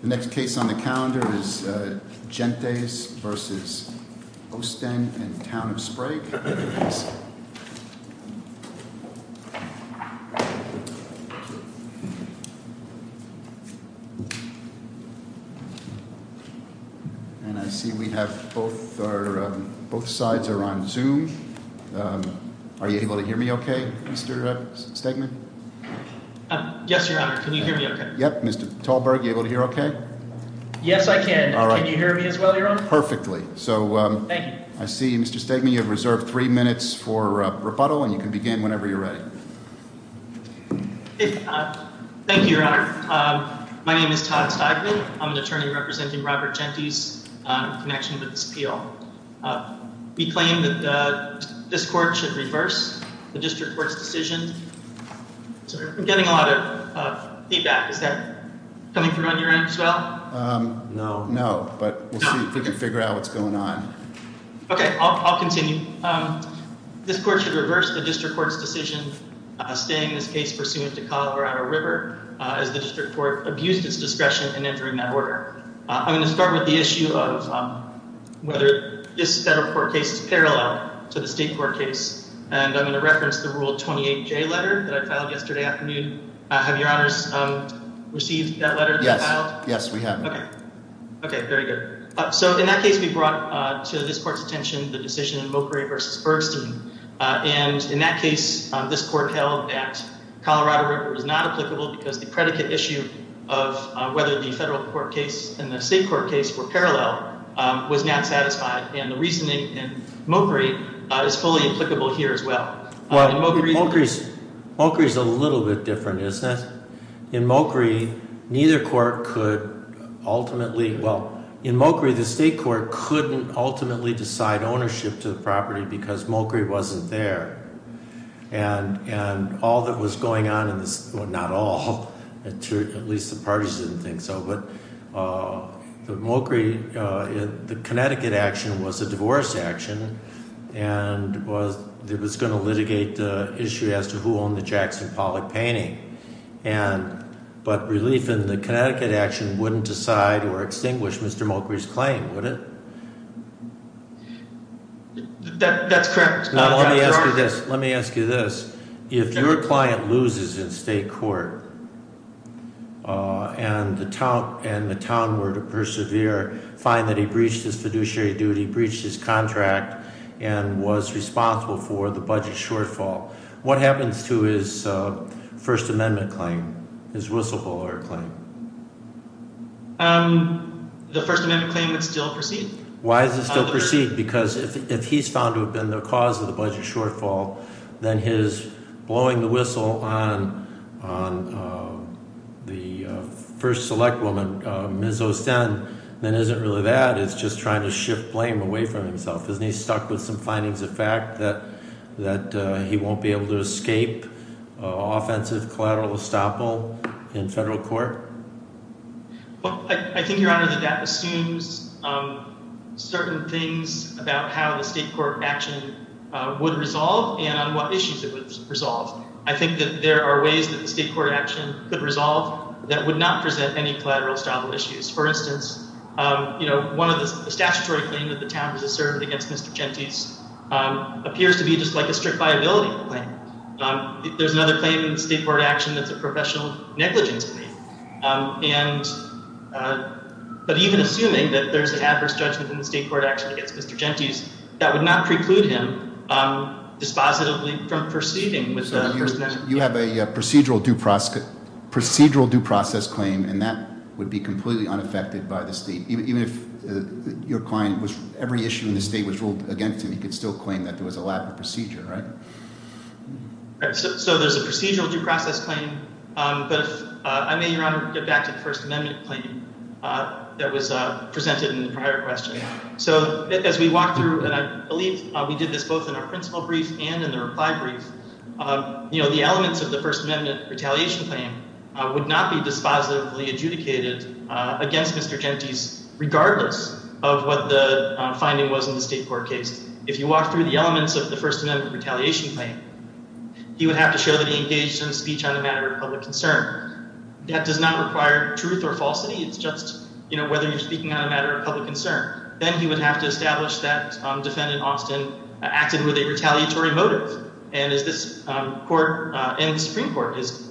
The next case on the calendar is Gentes v. Osten and Town of Sprague. And I see we have both sides are on Zoom. Are you able to hear me okay, Mr. Stegman? Yes, Your Honor. Can you hear me okay? Yes, I can. Can you hear me as well, Your Honor? Perfectly. Thank you. I see Mr. Stegman, you have reserved three minutes for rebuttal and you can begin whenever you're ready. Thank you, Your Honor. My name is Todd Stegman. I'm an attorney representing Robert Gentes in connection with this appeal. We claim that this court should reverse the district court's decision. I'm getting a lot of feedback. Is that coming through on your end as well? No. No, but we'll see if we can figure out what's going on. Okay, I'll continue. This court should reverse the district court's decision, staying this case pursuant to Colorado River as the district court abused its discretion in entering that order. I'm going to start with the issue of whether this federal court case is parallel to the state court case. I'm going to reference the Rule 28J letter that I filed yesterday afternoon. Have Your Honors received that letter that you filed? Yes, we have. Okay, very good. In that case, we brought to this court's attention the decision in Mokry v. Bergstein. In that case, this court held that Colorado River was not applicable because the predicate issue of whether the federal court case and the state court case were parallel was not satisfied. And the reasoning in Mokry is fully applicable here as well. Mokry is a little bit different, isn't it? In Mokry, neither court could ultimately—well, in Mokry, the state court couldn't ultimately decide ownership to the property because Mokry wasn't there. And all that was going on in this—well, not all. At least the parties didn't think so. But Mokry, the Connecticut action was a divorce action, and it was going to litigate the issue as to who owned the Jackson Pollock painting. But relief in the Connecticut action wouldn't decide or extinguish Mr. Mokry's claim, would it? That's correct. Let me ask you this. If your client loses in state court and the town were to persevere, find that he breached his fiduciary duty, breached his contract, and was responsible for the budget shortfall, what happens to his First Amendment claim, his whistleblower claim? The First Amendment claim would still proceed. Why does it still proceed? Because if he's found to have been the cause of the budget shortfall, then his blowing the whistle on the first select woman, Ms. O'Senn, then isn't really that. It's just trying to shift blame away from himself. Isn't he stuck with some findings of fact that he won't be able to escape offensive collateral estoppel in federal court? Well, I think, Your Honor, that assumes certain things about how the state court action would resolve and on what issues it would resolve. I think that there are ways that the state court action could resolve that would not present any collateral estoppel issues. For instance, you know, one of the statutory claim that the town was asserted against Mr. Gentis appears to be just like a strict viability claim. There's another claim in the state court action that's a professional negligence claim. But even assuming that there's an adverse judgment in the state court action against Mr. Gentis, that would not preclude him dispositively from proceeding with the First Amendment claim. You have a procedural due process claim, and that would be completely unaffected by the state. Even if your client was – every issue in the state was ruled against him, he could still claim that there was a lack of procedure, right? So there's a procedural due process claim, but if – I may, Your Honor, get back to the First Amendment claim that was presented in the prior question. So as we walk through, and I believe we did this both in our principle brief and in the reply brief, you know, the elements of the First Amendment retaliation claim would not be dispositively adjudicated against Mr. Gentis regardless of what the finding was in the state court case. If you walk through the elements of the First Amendment retaliation claim, he would have to show that he engaged in a speech on a matter of public concern. That does not require truth or falsity. It's just, you know, whether you're speaking on a matter of public concern. Then he would have to establish that Defendant Austin acted with a retaliatory motive. And as this court and the Supreme Court has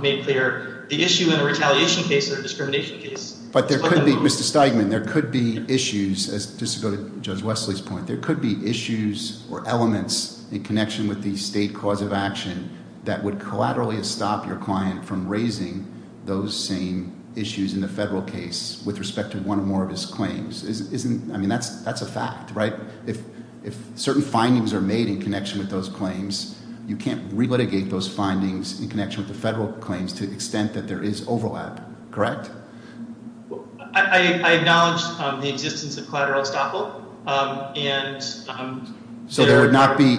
made clear, the issue in a retaliation case or a discrimination case – But there could be – Mr. Steigman, there could be issues – just to go to Judge Wesley's point – there could be issues or elements in connection with the state cause of action that would collaterally stop your client from raising those same issues in the federal case with respect to one or more of his claims. Isn't – I mean that's a fact, right? If certain findings are made in connection with those claims, you can't relitigate those findings in connection with the federal claims to the extent that there is overlap, correct? I acknowledge the existence of collateral estoppel, and – So there would not be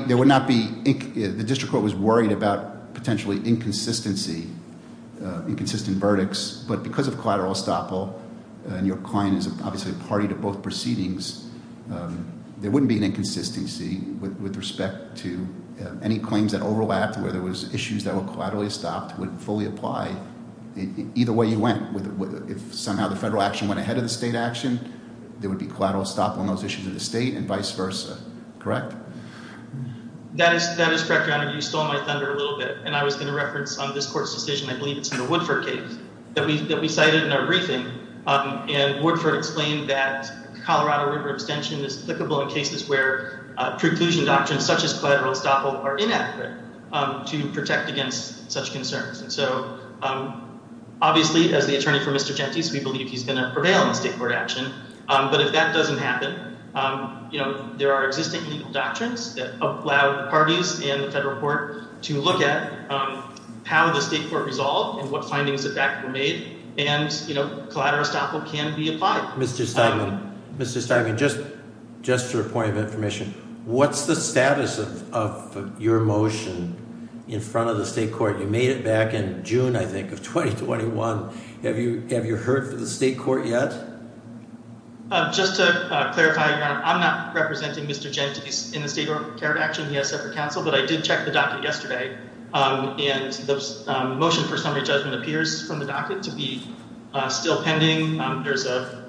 – the district court was worried about potentially inconsistency, inconsistent verdicts. But because of collateral estoppel, and your client is obviously a party to both proceedings, there wouldn't be an inconsistency with respect to any claims that overlapped. Where there was issues that were collaterally stopped would fully apply either way you went. If somehow the federal action went ahead of the state action, there would be collateral estoppel on those issues of the state and vice versa, correct? That is correct, Your Honor. You stole my thunder a little bit, and I was going to reference this court's decision – I believe it's in the Woodford case – that we cited in our briefing. And Woodford explained that Colorado River extension is applicable in cases where preclusion doctrines such as collateral estoppel are inadequate to protect against such concerns. And so obviously, as the attorney for Mr. Gentis, we believe he's going to prevail in the state court action. But if that doesn't happen, there are existing legal doctrines that allow parties in the federal court to look at how the state court resolved and what findings of that were made, and collateral estoppel can be applied. Mr. Steinman, just for a point of information, what's the status of your motion in front of the state court? You made it back in June, I think, of 2021. Have you heard from the state court yet? Just to clarify, Your Honor, I'm not representing Mr. Gentis in the state court action. He has separate counsel. But I did check the docket yesterday, and the motion for summary judgment appears from the docket to be still pending. There's a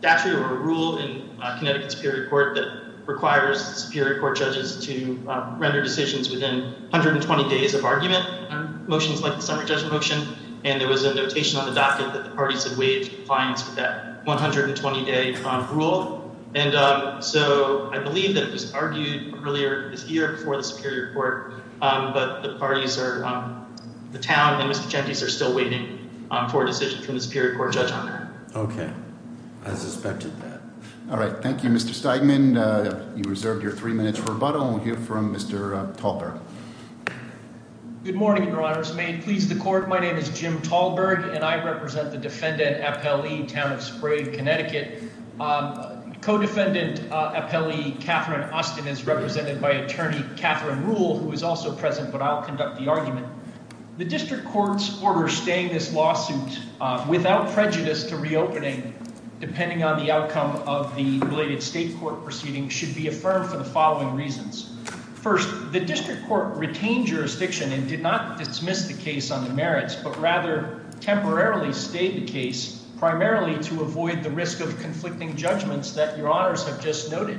statute or a rule in Connecticut Superior Court that requires the Superior Court judges to render decisions within 120 days of argument on motions like the summary judgment motion. And there was a notation on the docket that the parties had waived compliance with that 120-day rule. And so I believe that it was argued earlier this year before the Superior Court, but the parties are, the town and Mr. Gentis are still waiting for a decision from the Superior Court judge on that. Okay. I suspected that. All right. Thank you, Mr. Steinman. You reserved your three minutes for rebuttal. We'll hear from Mr. Talbert. Good morning, Your Honors. May it please the court, my name is Jim Talbert, and I represent the defendant appellee, Town of Sprague, Connecticut. Co-defendant appellee Catherine Austin is represented by attorney Catherine Rule, who is also present, but I'll conduct the argument. The district court's order staying this lawsuit without prejudice to reopening, depending on the outcome of the related state court proceeding, should be affirmed for the following reasons. First, the district court retained jurisdiction and did not dismiss the case on the merits, but rather temporarily stayed the case primarily to avoid the risk of conflicting judgments that Your Honors have just noted.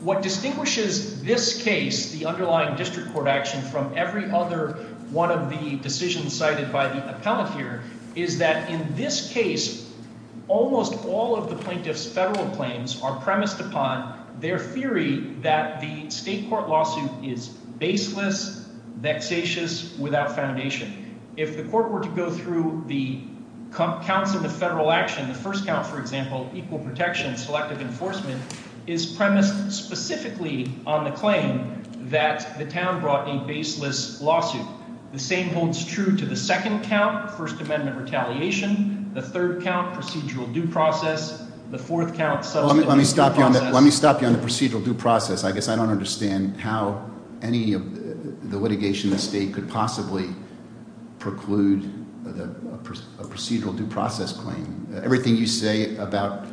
What distinguishes this case, the underlying district court action, from every other one of the decisions cited by the appellant here is that in this case, almost all of the plaintiff's federal claims are premised upon their theory that the state court lawsuit is baseless, vexatious, without foundation. If the court were to go through the counts of the federal action, the first count, for example, equal protection, selective enforcement, is premised specifically on the claim that the town brought a baseless lawsuit. The same holds true to the second count, First Amendment retaliation. The third count, procedural due process. The fourth count, substantive due process. Let me stop you on the procedural due process. I guess I don't understand how any of the litigation in the state could possibly preclude a procedural due process claim. Everything you say about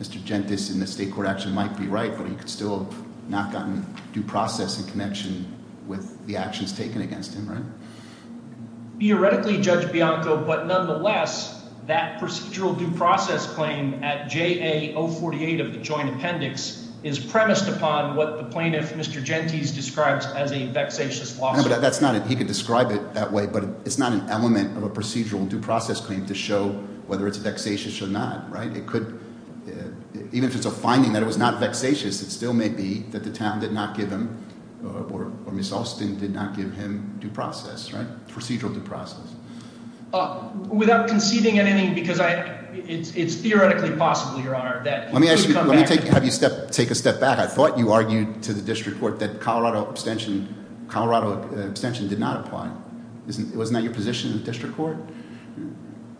Mr. Gentis in the state court action might be right, but he could still have not gotten due process in connection with the actions taken against him, right? Theoretically, Judge Bianco, but nonetheless, that procedural due process claim at JA 048 of the joint appendix is premised upon what the plaintiff, Mr. Gentis, describes as a vexatious lawsuit. No, but that's not it. He could describe it that way, but it's not an element of a procedural due process claim to show whether it's vexatious or not, right? It could, even if it's a finding that it was not vexatious, it still may be that the town did not give him, or Ms. Alston did not give him due process, right? Procedural due process. Without conceding anything, because it's theoretically possible, Your Honor, that- That abstention did not apply. Wasn't that your position in the district court?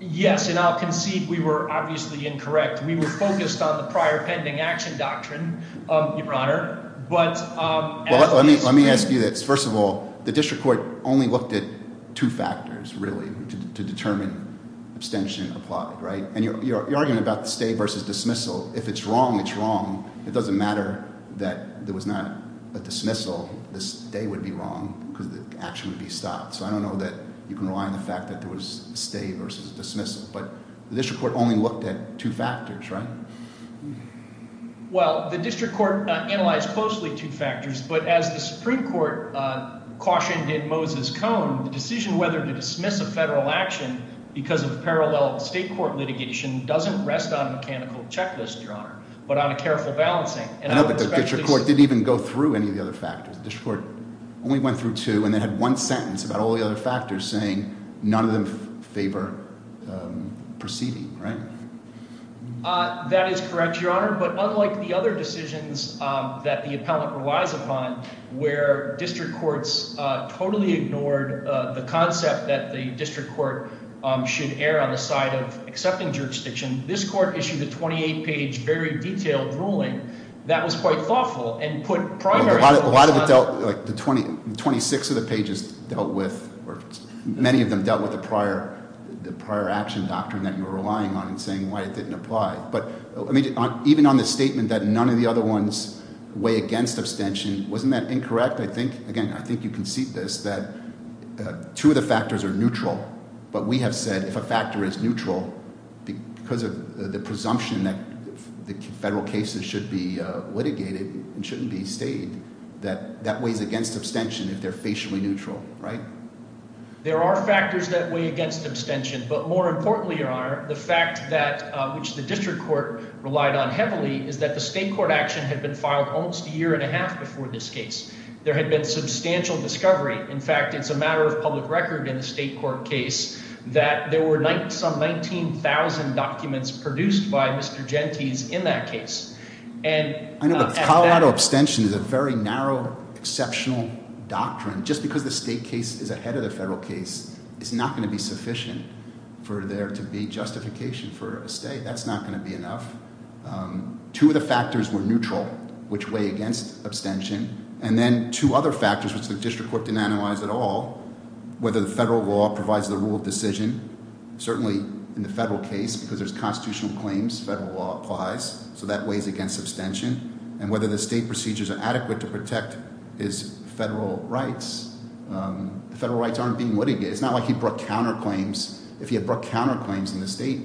Yes, and I'll concede we were obviously incorrect. We were focused on the prior pending action doctrine, Your Honor, but- Well, let me ask you this. First of all, the district court only looked at two factors, really, to determine abstention applied, right? And your argument about the stay versus dismissal, if it's wrong, it's wrong. It doesn't matter that there was not a dismissal. The stay would be wrong because the action would be stopped. So I don't know that you can rely on the fact that there was a stay versus dismissal, but the district court only looked at two factors, right? Well, the district court analyzed closely two factors, but as the Supreme Court cautioned in Moses Cone, the decision whether to dismiss a federal action because of parallel state court litigation doesn't rest on a mechanical checklist, Your Honor, but on a careful balancing. I know, but the district court didn't even go through any of the other factors. The district court only went through two and then had one sentence about all the other factors saying none of them favor proceeding, right? That is correct, Your Honor, but unlike the other decisions that the appellant relies upon where district courts totally ignored the concept that the district court should err on the side of accepting jurisdiction, this court issued a 28-page, very detailed ruling that was quite thoughtful and put primary- A lot of it dealt, like the 26 of the pages dealt with, or many of them dealt with the prior action doctrine that you were relying on and saying why it didn't apply. But even on the statement that none of the other ones weigh against abstention, wasn't that incorrect? I think, again, I think you can see this, that two of the factors are neutral. But we have said if a factor is neutral because of the presumption that the federal cases should be litigated and shouldn't be stayed, that that weighs against abstention if they're facially neutral, right? There are factors that weigh against abstention, but more importantly, Your Honor, the fact that which the district court relied on heavily is that the state court action had been filed almost a year and a half before this case. There had been substantial discovery. In fact, it's a matter of public record in the state court case that there were some 19,000 documents produced by Mr. Gentis in that case. And- I know, but Colorado abstention is a very narrow, exceptional doctrine. Just because the state case is ahead of the federal case is not going to be sufficient for there to be justification for a stay. That's not going to be enough. Two of the factors were neutral, which weigh against abstention. And then two other factors, which the district court didn't analyze at all, whether the federal law provides the rule of decision. Certainly in the federal case, because there's constitutional claims, federal law applies. So that weighs against abstention. And whether the state procedures are adequate to protect his federal rights. Federal rights aren't being litigated. It's not like he brought counterclaims. If he had brought counterclaims in the state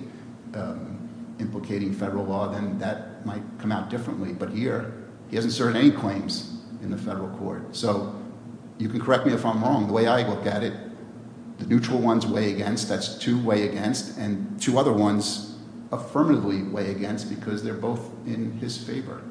implicating federal law, then that might come out differently. But here, he hasn't served any claims in the federal court. So you can correct me if I'm wrong. The way I look at it, the neutral ones weigh against. That's two weigh against. And two other ones affirmatively weigh against because they're both in his favor.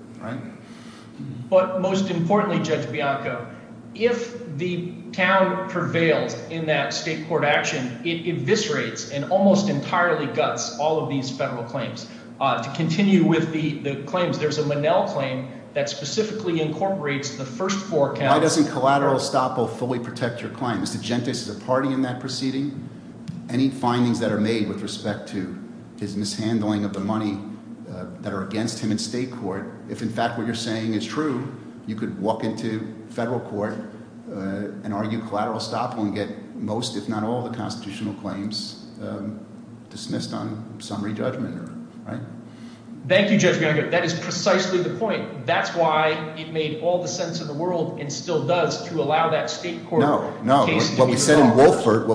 But most importantly, Judge Bianco, if the town prevails in that state court action, it eviscerates and almost entirely guts all of these federal claims. To continue with the claims, there's a Monell claim that specifically incorporates the first four counties. Why doesn't collateral estoppel fully protect your claim? Mr. Gentis is a party in that proceeding. Any findings that are made with respect to his mishandling of the money that are against him in state court, if in fact what you're saying is true, you could walk into federal court and argue collateral estoppel and get most, if not all, the constitutional claims dismissed on summary judgment. Thank you, Judge Bianco. That is precisely the point. That's why it made all the sense in the world and still does to allow that state court case to be resolved. No, what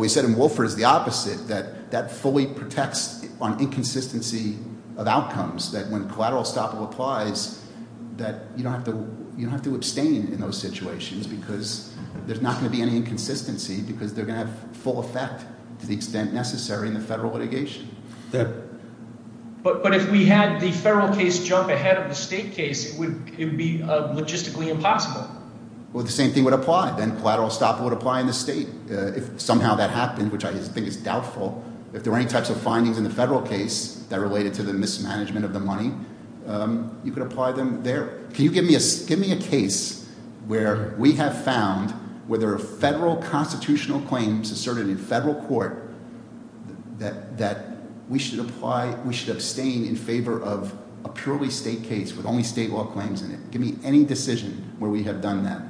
we said in Wolford is the opposite, that that fully protects on inconsistency of outcomes. That when collateral estoppel applies, that you don't have to abstain in those situations because there's not going to be any inconsistency. Because they're going to have full effect to the extent necessary in the federal litigation. But if we had the federal case jump ahead of the state case, it would be logistically impossible. Well, the same thing would apply. Then collateral estoppel would apply in the state if somehow that happened, which I think is doubtful. If there were any types of findings in the federal case that related to the mismanagement of the money, you could apply them there. Can you give me a case where we have found where there are federal constitutional claims asserted in federal court that we should apply, we should abstain in favor of a purely state case with only state law claims in it? Give me any decision where we have done that.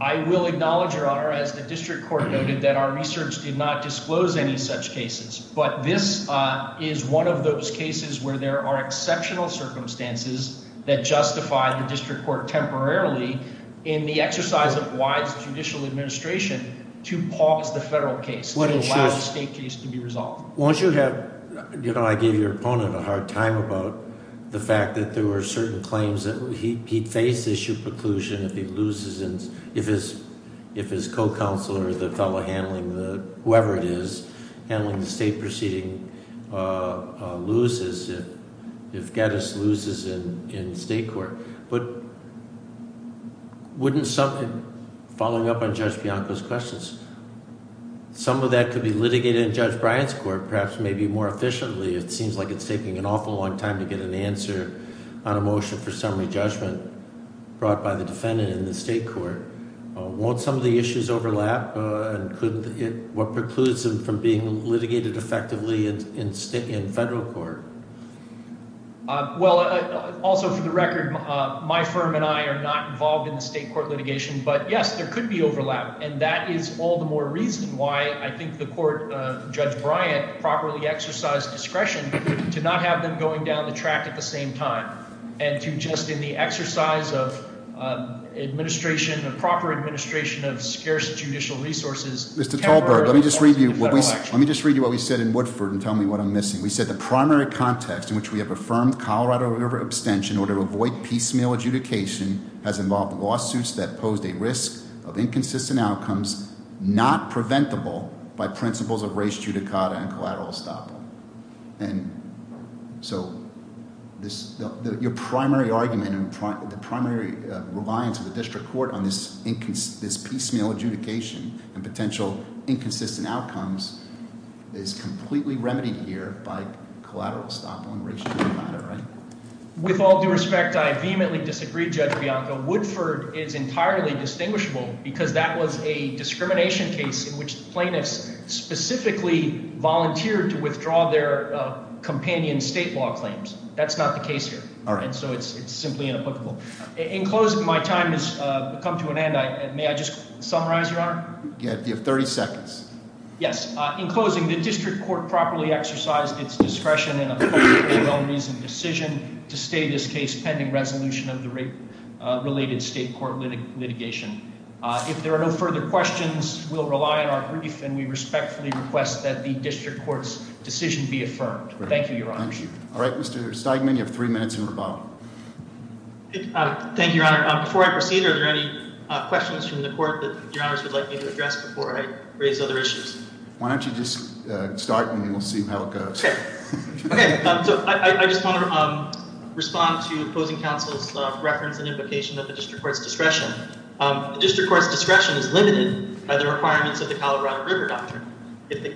I will acknowledge, Your Honor, as the district court noted, that our research did not disclose any such cases. But this is one of those cases where there are exceptional circumstances that justify the district court temporarily in the exercise of wise judicial administration to pause the federal case, the last state case to be resolved. Once you have – I gave your opponent a hard time about the fact that there were certain claims that he'd face issue preclusion if he loses – if his co-counsel or the fellow handling the – whoever it is handling the state proceeding loses, if Geddes loses in state court. But wouldn't some – following up on Judge Bianco's questions, some of that could be litigated in Judge Bryant's court perhaps maybe more efficiently. It seems like it's taking an awful long time to get an answer on a motion for summary judgment brought by the defendant in the state court. Won't some of the issues overlap and could – what precludes them from being litigated effectively in federal court? Well, also for the record, my firm and I are not involved in the state court litigation. But, yes, there could be overlap, and that is all the more reason why I think the court, Judge Bryant, properly exercised discretion to not have them going down the track at the same time and to just in the exercise of administration, a proper administration of scarce judicial resources – Mr. Talberg, let me just read you what we – let me just read you what we said in Woodford and tell me what I'm missing. We said the primary context in which we have affirmed Colorado River abstention in order to avoid piecemeal adjudication has involved lawsuits that posed a risk of inconsistent outcomes not preventable by principles of res judicata and collateral estoppel. And so this – your primary argument and the primary reliance of the district court on this piecemeal adjudication and potential inconsistent outcomes is completely remedied here by collateral estoppel and res judicata, right? With all due respect, I vehemently disagree, Judge Bianco. Woodford is entirely distinguishable because that was a discrimination case in which plaintiffs specifically volunteered to withdraw their companion state law claims. That's not the case here. All right. So it's simply inapplicable. In closing, my time has come to an end. May I just summarize, Your Honor? You have 30 seconds. Yes. In closing, the district court properly exercised its discretion in upholding a well-reasoned decision to stay this case pending resolution of the rape-related state court litigation. If there are no further questions, we'll rely on our brief, and we respectfully request that the district court's decision be affirmed. Thank you, Your Honor. Thank you. All right, Mr. Stegman, you have three minutes in rebuttal. Thank you, Your Honor. Before I proceed, are there any questions from the court that Your Honors would like me to address before I raise other issues? Why don't you just start, and we'll see how it goes. Okay. Okay. So I just want to respond to opposing counsel's reference and invocation of the district court's discretion. The district court's discretion is limited by the requirements of the Colorado River Doctrine. If the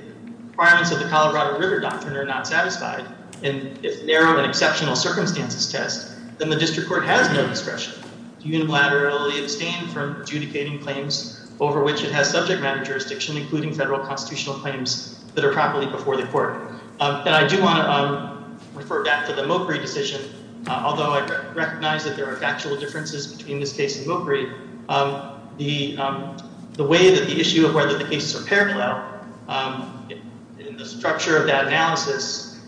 requirements of the Colorado River Doctrine are not satisfied, and if narrow and exceptional circumstances test, then the district court has no discretion to unilaterally abstain from adjudicating claims over which it has subject matter jurisdiction, including federal constitutional claims that are properly before the court. And I do want to refer back to the Mokry decision. Although I recognize that there are factual differences between this case and Mokry, the way that the issue of whether the cases are parallel in the structure of that analysis,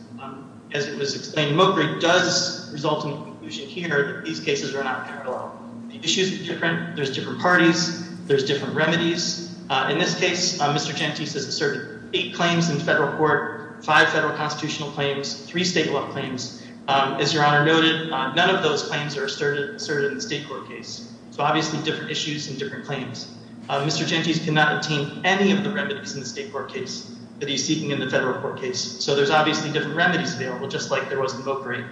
as it was explained in Mokry, does result in the conclusion here that these cases are not parallel. The issues are different. There's different parties. There's different remedies. In this case, Mr. Gentis has asserted eight claims in federal court, five federal constitutional claims, three state law claims. As Your Honor noted, none of those claims are asserted in the state court case. So obviously different issues and different claims. Mr. Gentis cannot obtain any of the remedies in the state court case that he's seeking in the federal court case. So there's obviously different remedies available, just like there was in Mokry.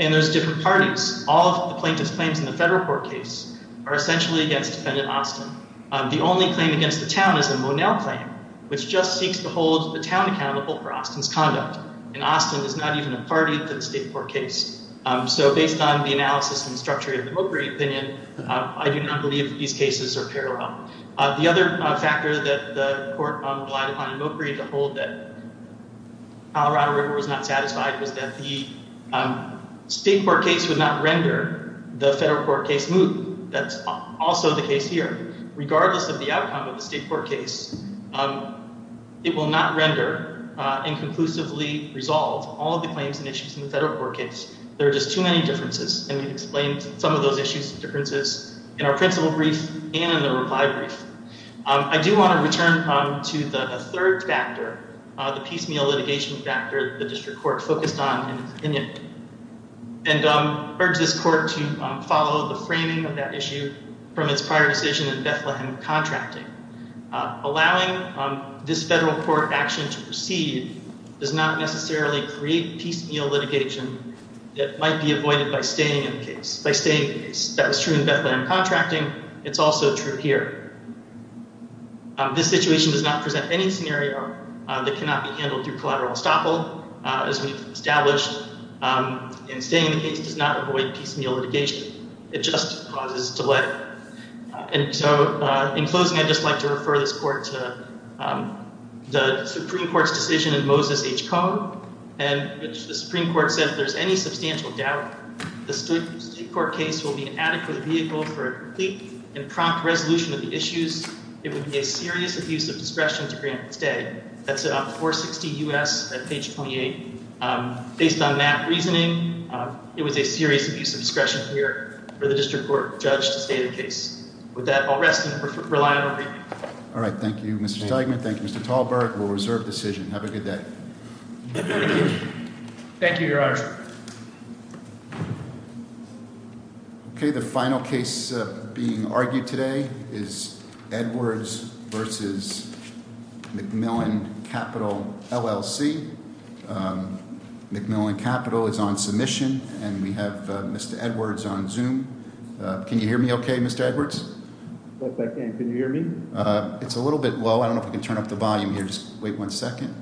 And there's different parties. All of the plaintiff's claims in the federal court case are essentially against Defendant Austin. The only claim against the town is the Monell claim, which just seeks to hold the town accountable for Austin's conduct. And Austin is not even a party to the state court case. So based on the analysis and structure of the Mokry opinion, I do not believe these cases are parallel. The other factor that the court relied upon in Mokry to hold that Colorado River was not satisfied was that the state court case would not render the federal court case moot. That's also the case here. Regardless of the outcome of the state court case, it will not render and conclusively resolve all of the claims and issues in the federal court case. There are just too many differences. And we've explained some of those differences in our principle brief and in the reply brief. I do want to return to a third factor, the piecemeal litigation factor the district court focused on in its opinion. And I urge this court to follow the framing of that issue from its prior decision in Bethlehem contracting. Allowing this federal court action to proceed does not necessarily create piecemeal litigation that might be avoided by staying in the case. That was true in Bethlehem contracting. It's also true here. This situation does not present any scenario that cannot be handled through collateral estoppel, as we've established. And staying in the case does not avoid piecemeal litigation. It just causes delay. In closing, I'd just like to refer this court to the Supreme Court's decision in Moses H. Cohn. The Supreme Court said, if there's any substantial doubt the state court case will be an adequate vehicle for a complete and prompt resolution of the issues, it would be a serious abuse of discretion to grant it's day. That's on 460 U.S. at page 28. Based on that reasoning, it was a serious abuse of discretion here for the district court judge to stay in the case. With that, I'll rest and rely on over to you. All right. Thank you, Mr. Steigman. Thank you, Mr. Tallberg. We'll reserve decision. Have a good day. Thank you, Your Honor. Okay. The final case being argued today is Edwards versus McMillan Capital LLC. McMillan Capital is on submission, and we have Mr. Edwards on Zoom. Can you hear me okay, Mr. Edwards? I can. Can you hear me? It's a little bit low. I don't know if we can turn up the volume here. Just wait one second.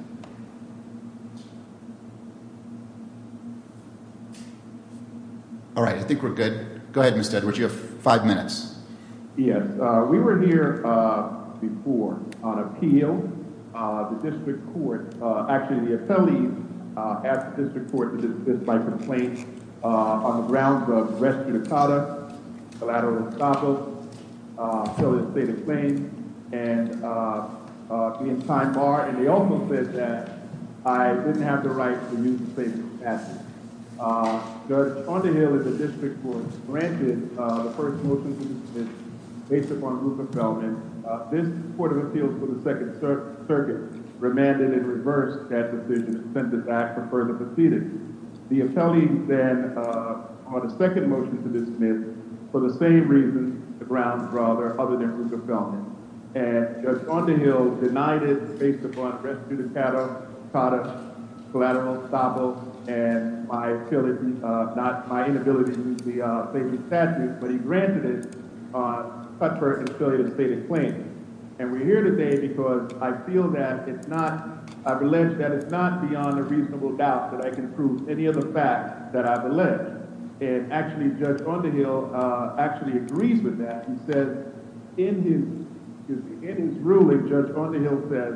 All right. I think we're good. Go ahead, Mr. Edwards. You have five minutes. Yes. We were here before on appeal. The district court, actually, the attorney at the district court, on the grounds of res judicata, collateral escapos, felicitative claims, and being time barred. And they also said that I didn't have the right to use the statement of passage. Judge, on the Hill that the district court granted the first motion to the district, based upon group of felonies, this court of appeals for the Second Circuit remanded and reversed that decision, and sent it back for further proceedings. The appellee, then, on a second motion to dismiss, for the same reason, the grounds, rather, other than group of felonies. And Judge, on the Hill, denied it based upon res judicata, collateral escapos, and my inability to use the statement of passage, but he granted it on comfort and felicitative stated claims. And we're here today because I feel that it's not, I've alleged that it's not beyond a reasonable doubt that I can prove any of the facts that I've alleged. And, actually, Judge, on the Hill, actually agrees with that. He says, in his ruling, Judge, on the Hill, says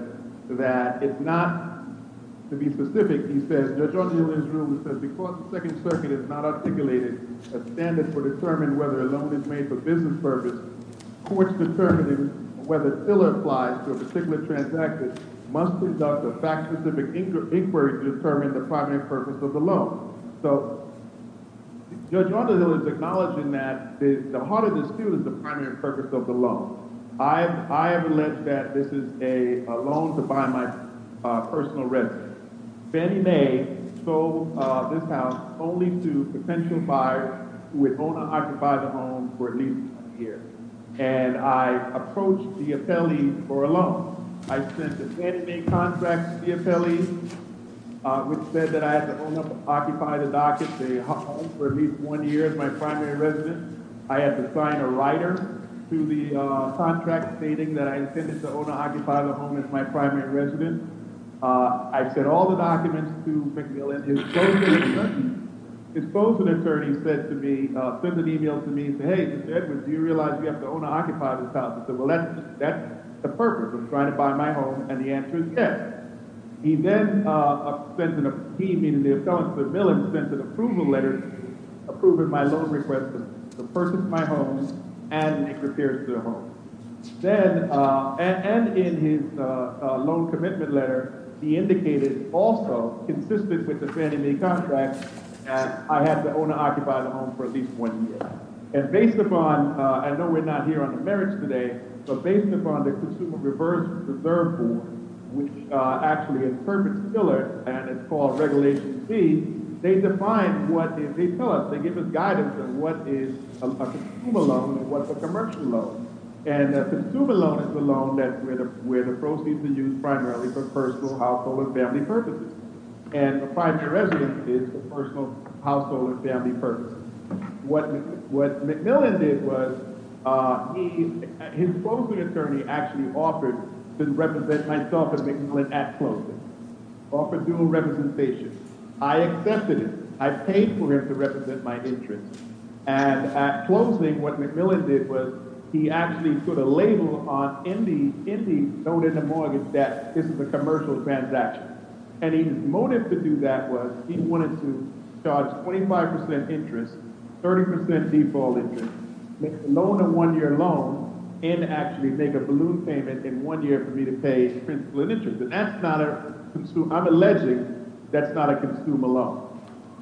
that it's not, to be specific, he says, Judge, on the Hill, in his ruling, says, because the Second Circuit has not articulated a standard for determining whether a loan is made for business purpose, courts determining whether it still applies to a particular transaction must conduct a fact-specific inquiry to determine the primary purpose of the loan. So, Judge, on the Hill, is acknowledging that the heart of the dispute is the primary purpose of the loan. I have alleged that this is a loan to buy my personal residence. Fannie Mae sold this house only to potential buyers who would own or occupy the home for at least one year. And I approached the appellee for a loan. I sent a Fannie Mae contract to the appellee, which said that I had to own or occupy the docket, the home, for at least one year as my primary residence. I had to sign a writer to the contract stating that I intended to own or occupy the home as my primary residence. I sent all the documents to McMillan. His closing attorney sent an email to me saying, Hey, Mr. Edwards, do you realize you have to own or occupy this house? I said, well, that's the purpose of trying to buy my home. And the answer is yes. He then sent an approval letter approving my loan request to purchase my home and make repairs to the home. And in his loan commitment letter, he indicated also, consistent with the Fannie Mae contract, that I had to own or occupy the home for at least one year. And based upon, I know we're not here on the merits today, but based upon the Consumer Reverse Reserve Board, which actually interprets Miller, and it's called Regulation C, they tell us, they give us guidance on what is a consumer loan and what's a commercial loan. And a consumer loan is a loan where the proceeds are used primarily for personal, household, and family purposes. And a primary residence is for personal, household, and family purposes. What McMillan did was, his closing attorney actually offered to represent myself and McMillan at closing. Offered dual representation. I accepted it. I paid for him to represent my interest. And at closing, what McMillan did was, he actually put a label on, in the loan and the mortgage, that this is a commercial transaction. And his motive to do that was, he wanted to charge 25% interest, 30% default interest, make a loan of one year loan, and actually make a balloon payment in one year for me to pay principal and interest. And that's not a, I'm alleging, that's not a consumer loan.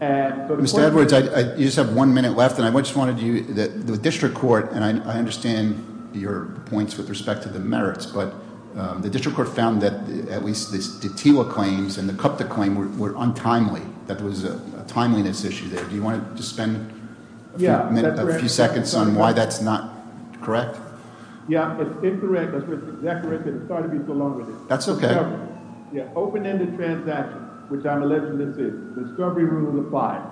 Mr. Edwards, you just have one minute left. And I just wanted you, the district court, and I understand your points with respect to the merits, but the district court found that at least the TTIWA claims and the CUPTA claim were untimely. That was a timeliness issue there. Do you want to just spend a few seconds on why that's not correct? Yeah, that's incorrect. That's exactly right. Sorry to be so long with you. That's okay. The open-ended transaction, which I'm alleging this is, the discovery rule applies.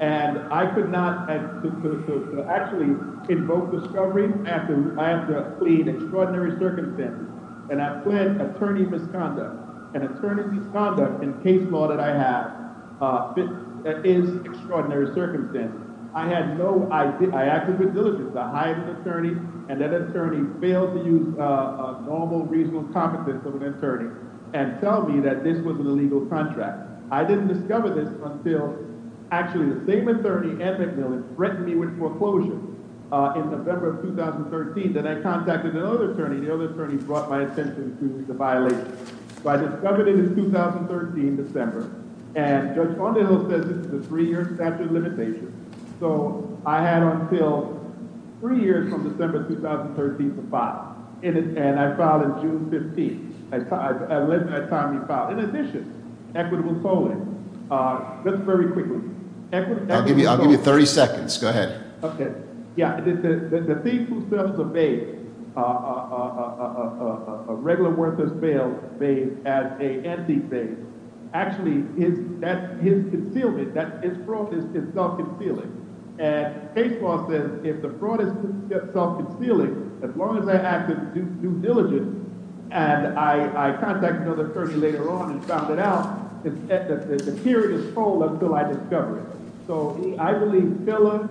And I could not actually invoke discovery after I have to plead extraordinary circumstances. And I plead attorney misconduct. And attorney misconduct in case law that I have is extraordinary circumstances. I had no idea. I acted with diligence. And that attorney failed to use normal, reasonable competence of an attorney and tell me that this was an illegal contract. I didn't discover this until actually the same attorney, Ed McMillan, threatened me with foreclosure in November of 2013. Then I contacted another attorney. The other attorney brought my attention to the violation. So I discovered it in 2013, December. And Judge Fondejo says this is a three-year statute of limitations. So I had until three years from December 2013 to file. And I filed in June 15th. At the time he filed. In addition, equitable tolling. Just very quickly. I'll give you 30 seconds. Go ahead. Okay. Yeah. The thief who sells the vase, a regular worthless mail vase as a empty vase, actually his concealment, his fraud is self-concealing. And case law says if the fraud is self-concealing, as long as I act with due diligence, and I contacted another attorney later on and found it out, the period is full until I discover it. So I believe Filler,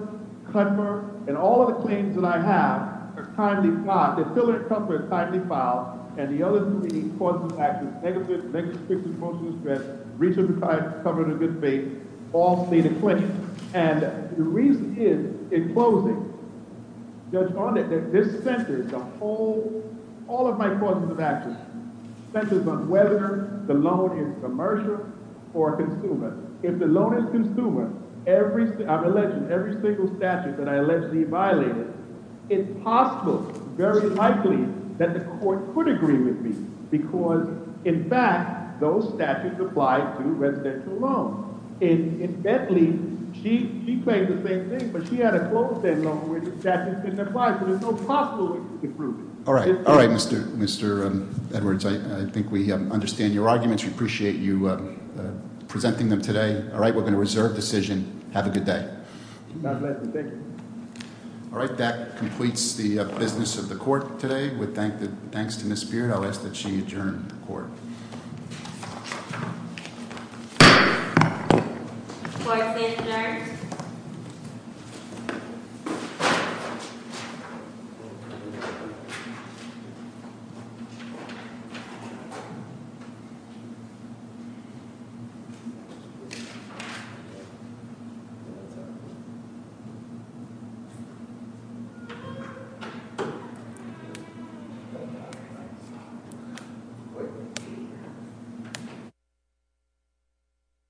Cutmer, and all of the claims that I have are timely filed. The Filler and Cutmer are timely filed. And the other three causes of action, negative, negativistic, emotional distress, breach of the covenant of good faith, all state of claim. And the reason is, in closing, Judge Fondejo, this centers the whole, all of my causes of action, centers on whether the loan is commercial or consumer. If the loan is consumer, I'm alleging every single statute that I allegedly violated, it's possible, very likely, that the court could agree with me. Because, in fact, those statutes apply to residential loans. In Bentley, she claimed the same thing, but she had a closed-end loan where the statutes didn't apply. So there's no possible way to prove it. All right. All right, Mr. Edwards. I think we understand your arguments. We appreciate you presenting them today. All right, we're going to reserve decision. Have a good day. All right, that completes the business of the court today. With thanks to Ms. Beard, I'll ask that she adjourn the court. Thank you.